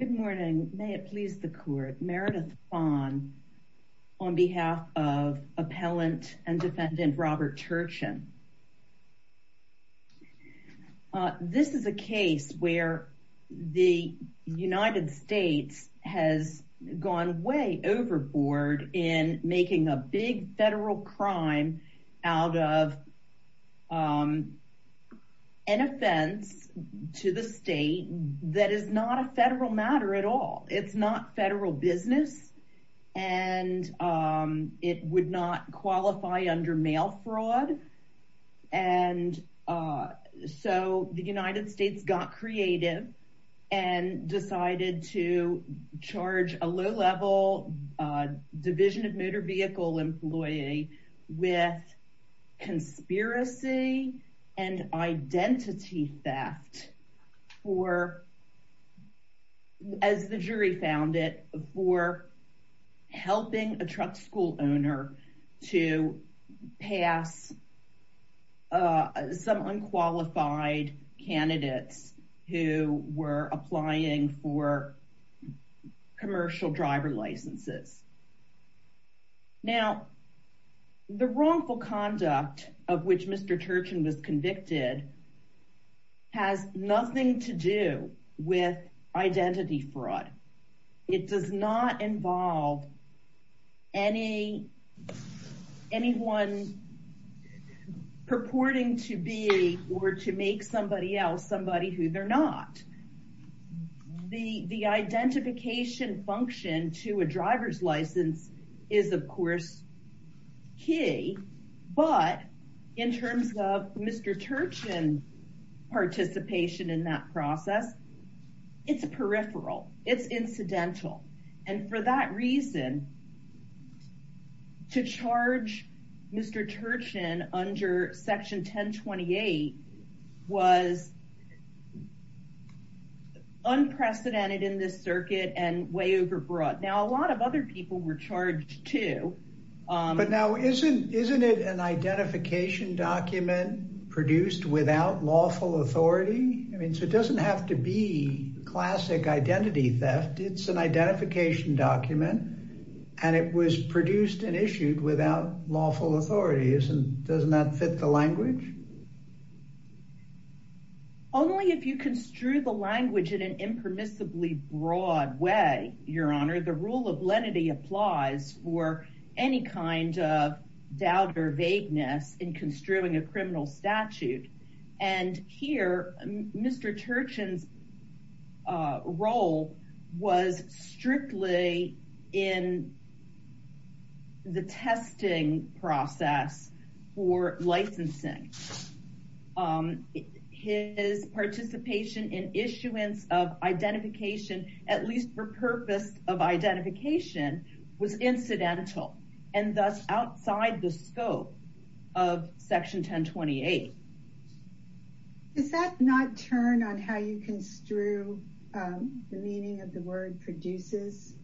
Good morning. May it please the court. Meredith Vaughn on behalf of Appellant and Defendant Robert Turchin. This is a case where the United States has gone way overboard in making a big federal crime out of an offense to the state that is not a federal matter at all. It's not federal business and it would not qualify under mail fraud and so the United States got creative and decided to charge a low-level division of motor vehicle employee with conspiracy and identity theft. As the jury found it, for helping a truck school owner to pass some unqualified candidates who were applying for commercial driver licenses. Now the wrongful conduct of which Mr. Turchin was convicted has nothing to do with identity fraud. It does not involve anyone purporting to be or to make somebody else somebody who they're not. The identification function to a driver's license is of course key, but in terms of Mr. Turchin participation in that process, it's a peripheral, it's incidental. And for that reason, to charge Mr. Turchin under section 1028 was unprecedented in this circuit and way overbroad. Now a lot of other people were charged too. But now isn't it an identification document produced without lawful authority? I mean, so it doesn't have to be classic identity theft. It's an identification document and it was produced and issued without lawful authority. Doesn't that fit the language? Only if you construe the language in an impermissibly broad way, Your Honor, the rule of lenity applies for any kind of doubt or vagueness in construing a criminal statute. And here, Mr. Turchin's role was strictly in the testing process for licensing. His participation in issuance of identification, at least for purpose of identification, was incidental and thus outside the scope of section 1028. Does that not turn on how you construe the meaning of the word produces?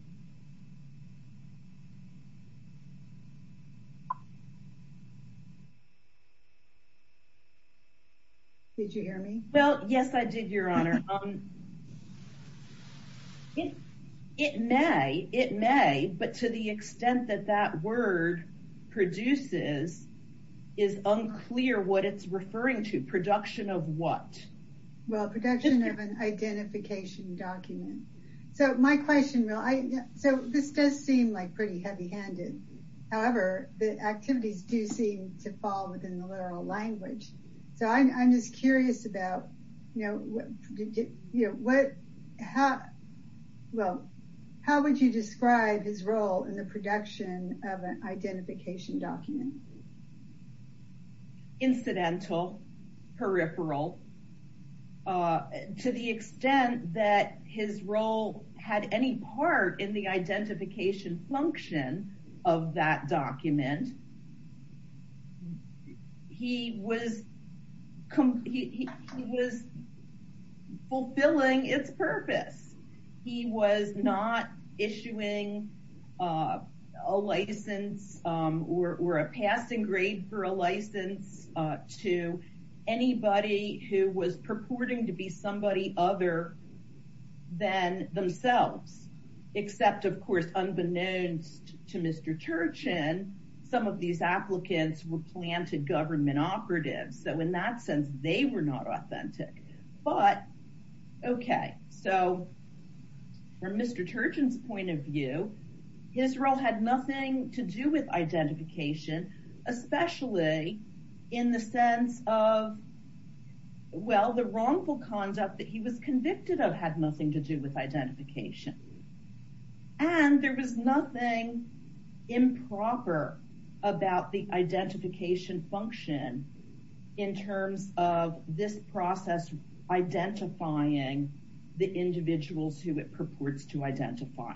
Did you hear me? Well, yes, I did, Your Honor. It may, it may, but to the extent that that word produces is unclear what it's referring to. Production of what? Well, production of an identification document. So my question, so this does seem like pretty heavy handed. However, the activities do seem to fall within the literal language. So I'm just curious about, you know, what, how, well, how would you describe his role in the production of an identification document? Incidental, peripheral, to the extent that his role had any part in the identification function of that document. And he was, he was fulfilling its purpose. He was not issuing a license or a passing grade for a license to anybody who was purporting to be somebody other than themselves. Except, of course, unbeknownst to Mr. Turchin, some of these applicants were planted government operatives. So in that sense, they were not authentic. But, okay, so from Mr. Turchin's point of view, his role had nothing to do with identification, especially in the sense of, well, the wrongful conduct that he was convicted of had nothing to do with identification. And there was nothing improper about the identification function in terms of this process, identifying the individuals who it purports to identify.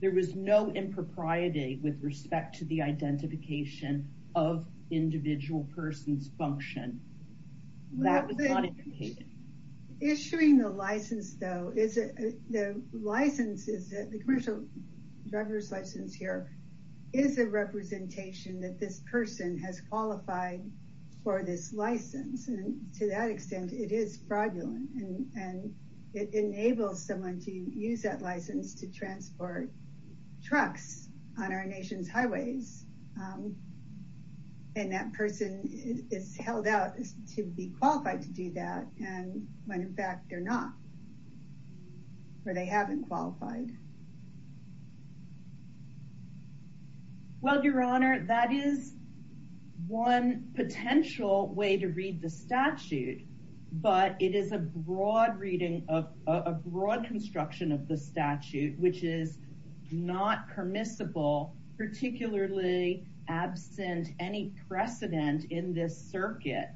There was no impropriety with respect to the identification of individual persons function. Well, issuing the license, though, is the license is that the commercial driver's license here is a representation that this person has qualified for this license. And to that extent, it is fraudulent. And it enables someone to use that license to transport trucks on our nation's highways. And that person is held out to be qualified to do that. And when in fact they're not, or they haven't qualified. Well, Your Honor, that is one potential way to read the statute. But it is a broad reading of a broad construction of the statute, which is not permissible, particularly absent any precedent in this circuit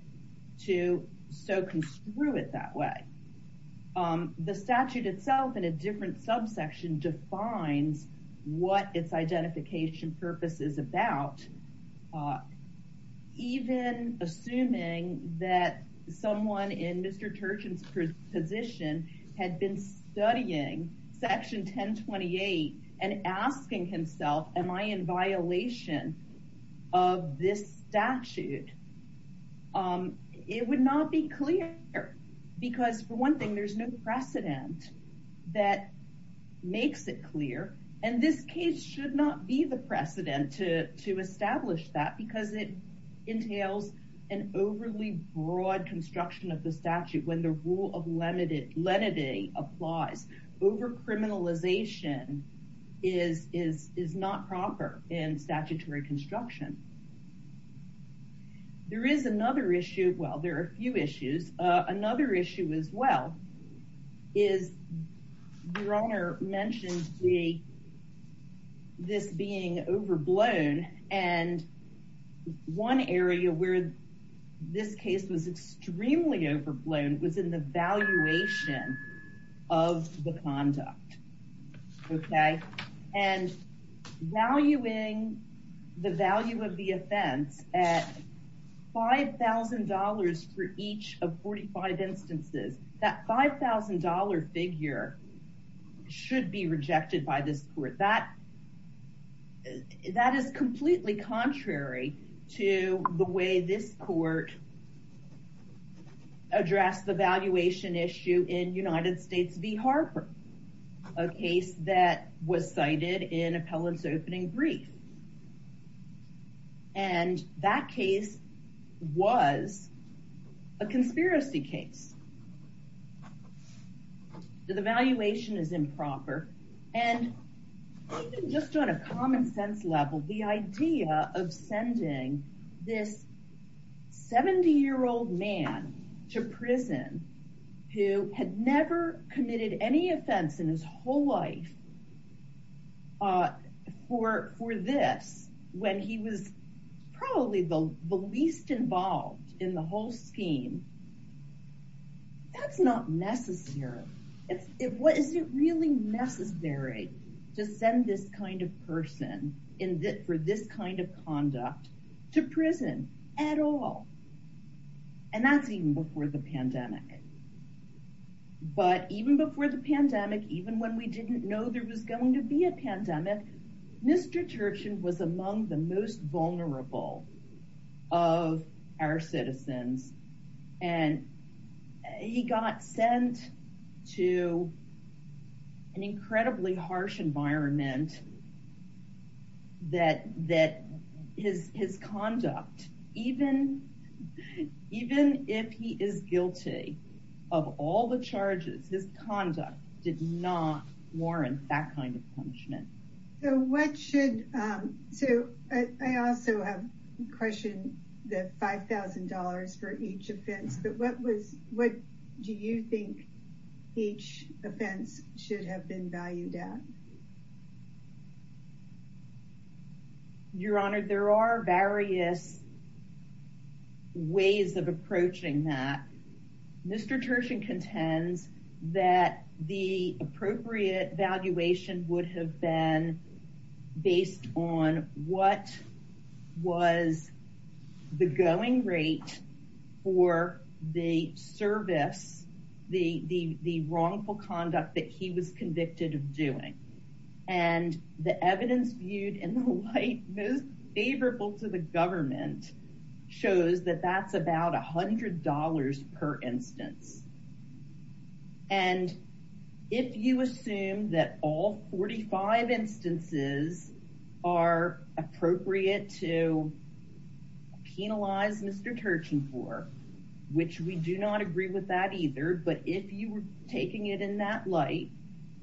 to so construe it that way. The statute itself in a different subsection defines what its identification purpose is about. Even assuming that someone in Mr. Turchin's position had been studying Section 1028 and asking himself, am I in violation of this statute? It would not be clear because, for one thing, there's no precedent that makes it clear. And this case should not be the precedent to establish that because it entails an overly broad construction of the statute. When the rule of lenity applies, over-criminalization is not proper in statutory construction. There is another issue. Well, there are a few issues. Another issue as well is Your Honor mentioned this being overblown. And one area where this case was extremely overblown was in the valuation of the conduct. Okay. And valuing the value of the offense at $5,000 for each of 45 instances, that $5,000 figure should be rejected by this court. That is completely contrary to the way this court addressed the valuation issue in United States v. Harper. A case that was cited in Appellant's opening brief. And that case was a conspiracy case. The valuation is improper. And even just on a common sense level, the idea of sending this 70-year-old man to prison who had never committed any offense in his whole life for this when he was probably the least involved in the whole scheme, that's not necessary. Is it really necessary to send this kind of person for this kind of conduct to prison at all? And that's even before the pandemic. But even before the pandemic, even when we didn't know there was going to be a pandemic, Mr. Turchin was among the most vulnerable of our citizens. And he got sent to an incredibly harsh environment that his conduct, even if he is guilty, of all the charges, his conduct did not warrant that kind of punishment. So what should, so I also have a question that $5,000 for each offense, but what was, what do you think each offense should have been valued at? Your Honor, there are various ways of approaching that. Mr. Turchin contends that the appropriate valuation would have been based on what was the going rate for the service, the wrongful conduct that he was convicted of doing. And the evidence viewed in the light most favorable to the government shows that that's about $100 per instance. And if you assume that all 45 instances are appropriate to penalize Mr. Turchin for, which we do not agree with that either, but if you were taking it in that light,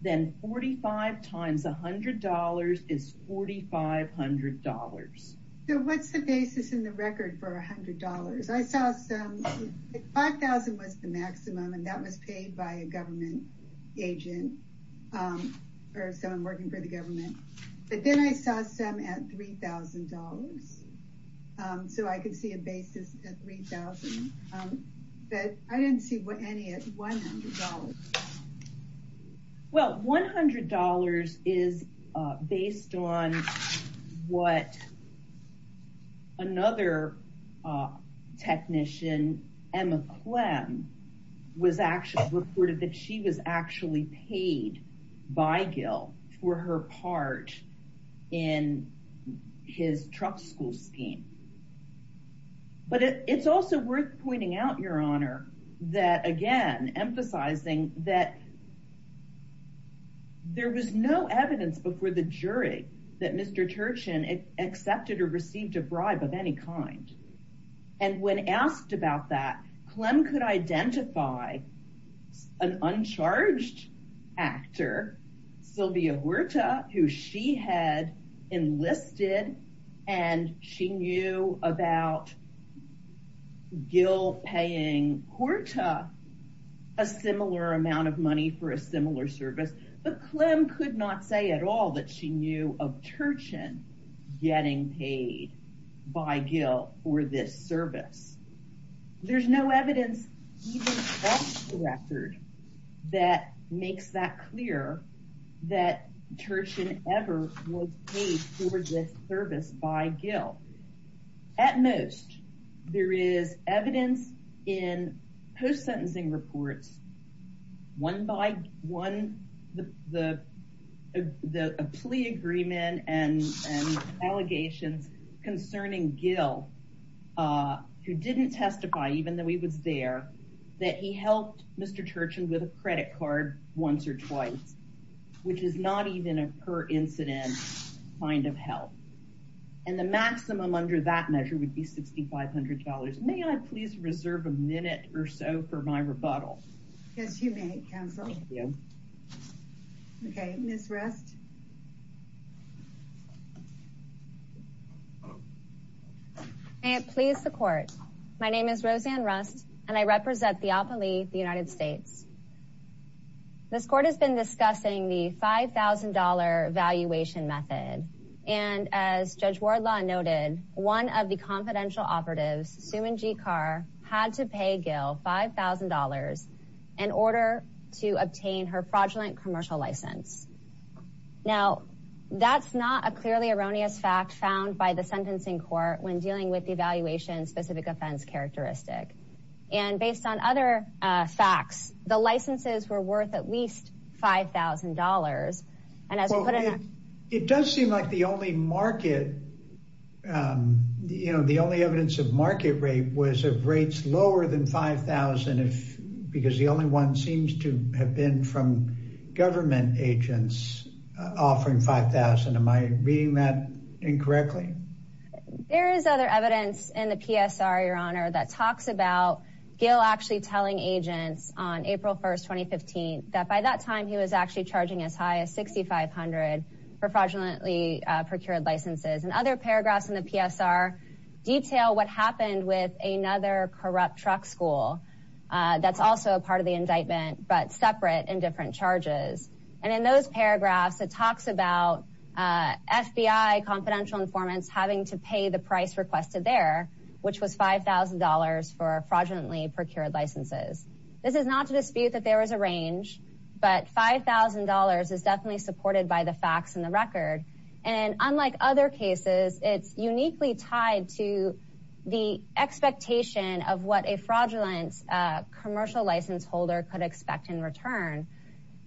then 45 times $100 is $4,500. So what's the basis in the record for $100? I saw some, $5,000 was the maximum and that was paid by a government agent or someone working for the government. But then I saw some at $3,000. So I could see a basis at $3,000, but I didn't see any at $100. Well, $100 is based on what another technician, Emma Clem, was actually reported that she was actually paid by Gil for her part in his Trump school scheme. But it's also worth pointing out, Your Honor, that again, emphasizing that there was no evidence before the jury that Mr. Turchin accepted or received a bribe of any kind. And when asked about that, Clem could identify an uncharged actor, Sylvia Huerta, who she had enlisted and she knew about Gil paying Huerta a similar amount of money for a similar service. But Clem could not say at all that she knew of Turchin getting paid by Gil for this service. There's no evidence even across the record that makes that clear, that Turchin ever was paid for this service by Gil. At most, there is evidence in post-sentencing reports, a plea agreement and allegations concerning Gil, who didn't testify even though he was there, that he helped Mr. Turchin with a credit card once or twice, which is not even a per-incident kind of help. And the maximum under that measure would be $6,500. May I please reserve a minute or so for my rebuttal? Yes, you may, Counsel. Thank you. Okay, Ms. Rust. May it please the Court. My name is Roseanne Rust, and I represent the Alpha Lee, the United States. This Court has been discussing the $5,000 valuation method. And as Judge Wardlaw noted, one of the confidential operatives, Suman G. Carr, had to pay Gil $5,000 in order to obtain her fraudulent commercial license. Now, that's not a clearly erroneous fact found by the Sentencing Court when dealing with the valuation-specific offense characteristic. And based on other facts, the licenses were worth at least $5,000. It does seem like the only evidence of market rate was of rates lower than $5,000, because the only one seems to have been from government agents offering $5,000. Am I reading that incorrectly? There is other evidence in the PSR, Your Honor, that talks about Gil actually telling agents on April 1, 2015, that by that time he was actually charging as high as $6,500 for fraudulently procured licenses. And other paragraphs in the PSR detail what happened with another corrupt truck school that's also a part of the indictment, but separate in different charges. And in those paragraphs, it talks about FBI confidential informants having to pay the price requested there, which was $5,000 for fraudulently procured licenses. This is not to dispute that there was a range, but $5,000 is definitely supported by the facts and the record. And unlike other cases, it's uniquely tied to the expectation of what a fraudulent commercial license holder could expect in return.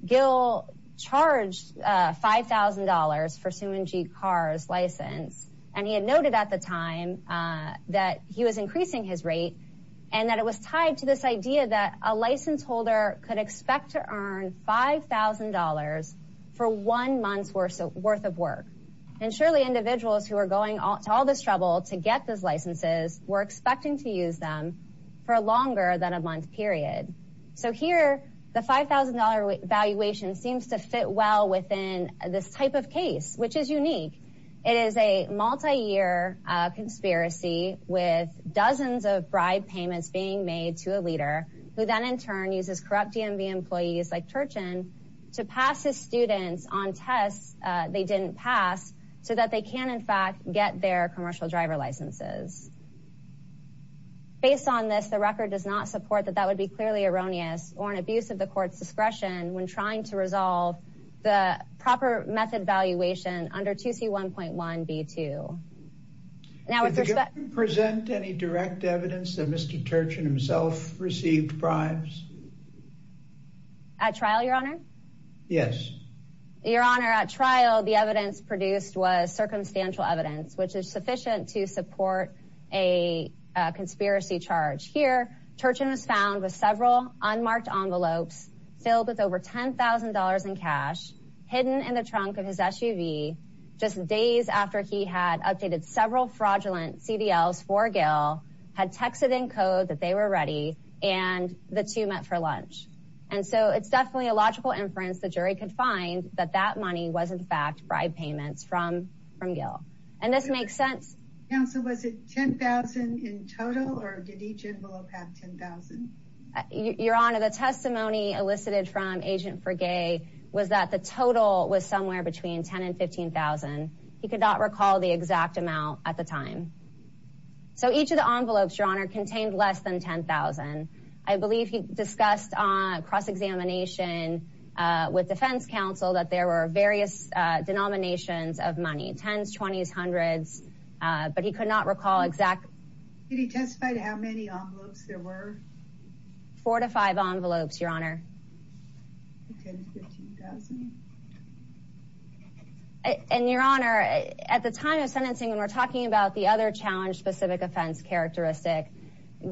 Gil charged $5,000 for Suman G. Carr's license. And he had noted at the time that he was increasing his rate and that it was tied to this idea that a license holder could expect to earn $5,000 for one month's worth of work. And surely individuals who are going to all this trouble to get those licenses were expecting to use them for longer than a month period. So here, the $5,000 valuation seems to fit well within this type of case, which is unique. It is a multi-year conspiracy with dozens of bribe payments being made to a leader who then in turn uses corrupt DMV employees like Turchin to pass his students on tests they didn't pass so that they can in fact get their commercial driver licenses. Based on this, the record does not support that that would be clearly erroneous or an abuse of the court's discretion when trying to resolve the proper method valuation under 2C.1.1.B.2. Did the government present any direct evidence that Mr. Turchin himself received bribes? At trial, Your Honor? Yes. Your Honor, at trial, the evidence produced was circumstantial evidence, which is sufficient to support a conspiracy charge. Here, Turchin was found with several unmarked envelopes filled with over $10,000 in cash hidden in the trunk of his SUV just days after he had updated several fraudulent CDLs for Gail, had texted in code that they were ready, and the two met for lunch. And so it's definitely a logical inference the jury could find that that money was in fact bribe payments from Gail. And this makes sense. Counsel, was it $10,000 in total or did each envelope have $10,000? Your Honor, the testimony elicited from Agent Fragay was that the total was somewhere between $10,000 and $15,000. He could not recall the exact amount at the time. So each of the envelopes, Your Honor, contained less than $10,000. I believe he discussed on cross-examination with defense counsel that there were various denominations of money, tens, twenties, hundreds, but he could not recall exact. Did he testify to how many envelopes there were? Four to five envelopes, Your Honor. And, Your Honor, at the time of sentencing, when we're talking about the other challenge-specific offense characteristic,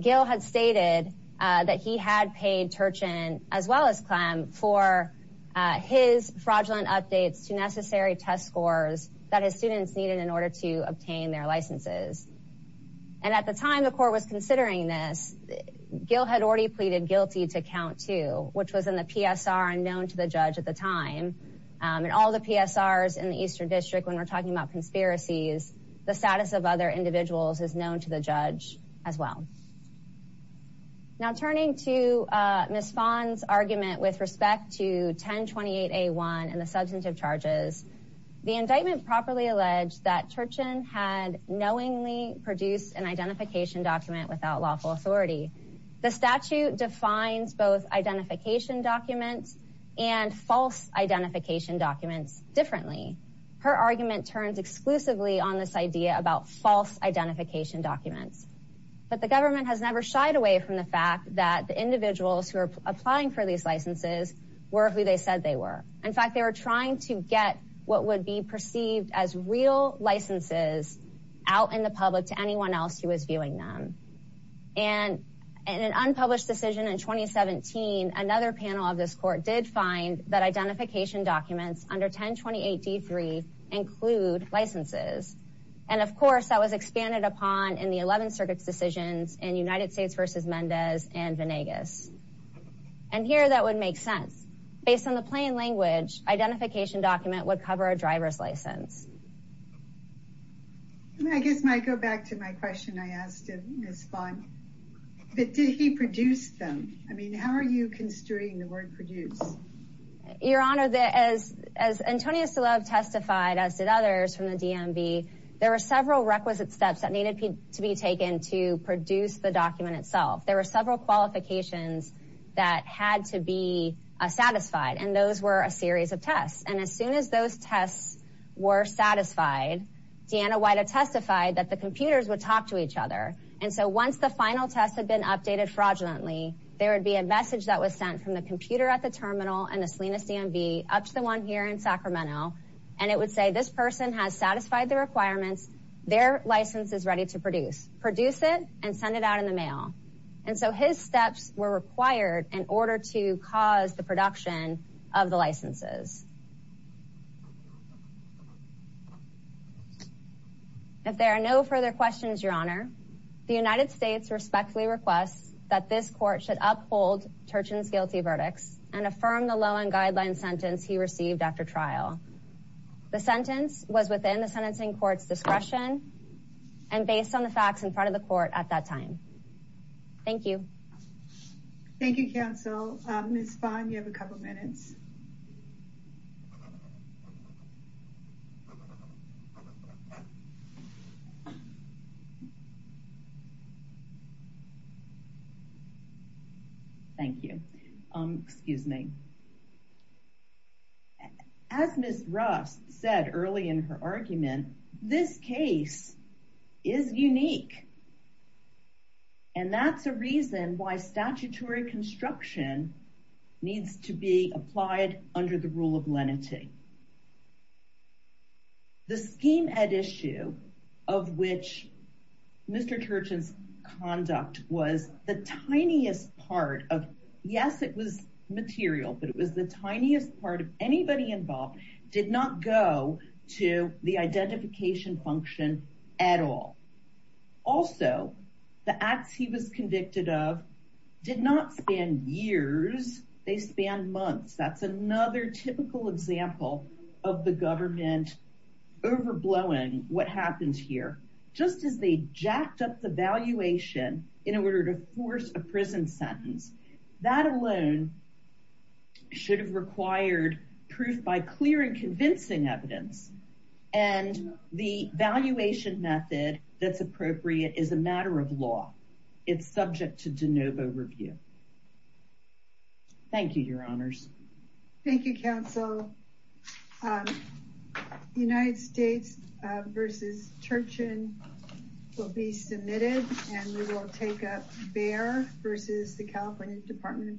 Gail had stated that he had paid Turchin as well as Clem for his fraudulent updates to necessary test scores that his students needed in order to obtain their licenses. And at the time the court was considering this, Gail had already pleaded guilty to count two, which was in the PSR and known to the judge at the time. In all the PSRs in the Eastern District, when we're talking about conspiracies, the status of other individuals is known to the judge as well. Now, turning to Ms. Fahn's argument with respect to 1028A1 and the substantive charges, the indictment properly alleged that Turchin had knowingly produced an identification document without lawful authority. The statute defines both identification documents and false identification documents differently. Her argument turns exclusively on this idea about false identification documents. But the government has never shied away from the fact that the individuals who are applying for these licenses were who they said they were. In fact, they were trying to get what would be perceived as real licenses out in the public to anyone else who was viewing them. And in an unpublished decision in 2017, another panel of this court did find that identification documents under 1028D3 include licenses. And, of course, that was expanded upon in the 11th Circuit's decisions in United States v. Mendez and Venegas. And here, that would make sense. Based on the plain language, identification document would cover a driver's license. I guess I might go back to my question I asked of Ms. Fahn. Did he produce them? I mean, how are you construing the word produce? Your Honor, as Antonia Selov testified, as did others from the DMV, there were several requisite steps that needed to be taken to produce the document itself. There were several qualifications that had to be satisfied, and those were a series of tests. And as soon as those tests were satisfied, Deanna White had testified that the computers would talk to each other. And so once the final test had been updated fraudulently, there would be a message that was sent from the computer at the terminal and the Salinas DMV up to the one here in Sacramento. And it would say, this person has satisfied the requirements. Their license is ready to produce. Produce it and send it out in the mail. And so his steps were required in order to cause the production of the licenses. If there are no further questions, Your Honor, the United States respectfully requests that this court should uphold Turchin's guilty verdicts and affirm the law and guideline sentence he received after trial. The sentence was within the sentencing court's discretion and based on the facts in front of the court at that time. Thank you. Thank you, counsel. Ms. Fahn, you have a couple of minutes. Thank you. Excuse me. As Ms. Rust said early in her argument, this case is unique. And that's a reason why statutory construction needs to be applied under the rule of lenity. The scheme at issue of which Mr. Turchin's conduct was the tiniest part of, yes, it was material, but it was the tiniest part of anybody involved, did not go to the identification function at all. Also, the acts he was convicted of did not span years. They spanned months. That's another typical example of the government overblowing what happens here. Just as they jacked up the valuation in order to force a prison sentence, that alone should have required proof by clear and convincing evidence. And the valuation method that's appropriate is a matter of law. It's subject to de novo review. Thank you, your honors. Thank you, counsel. The United States v. Turchin will be submitted, and we will take up Bayer v. the California Department of Transportation.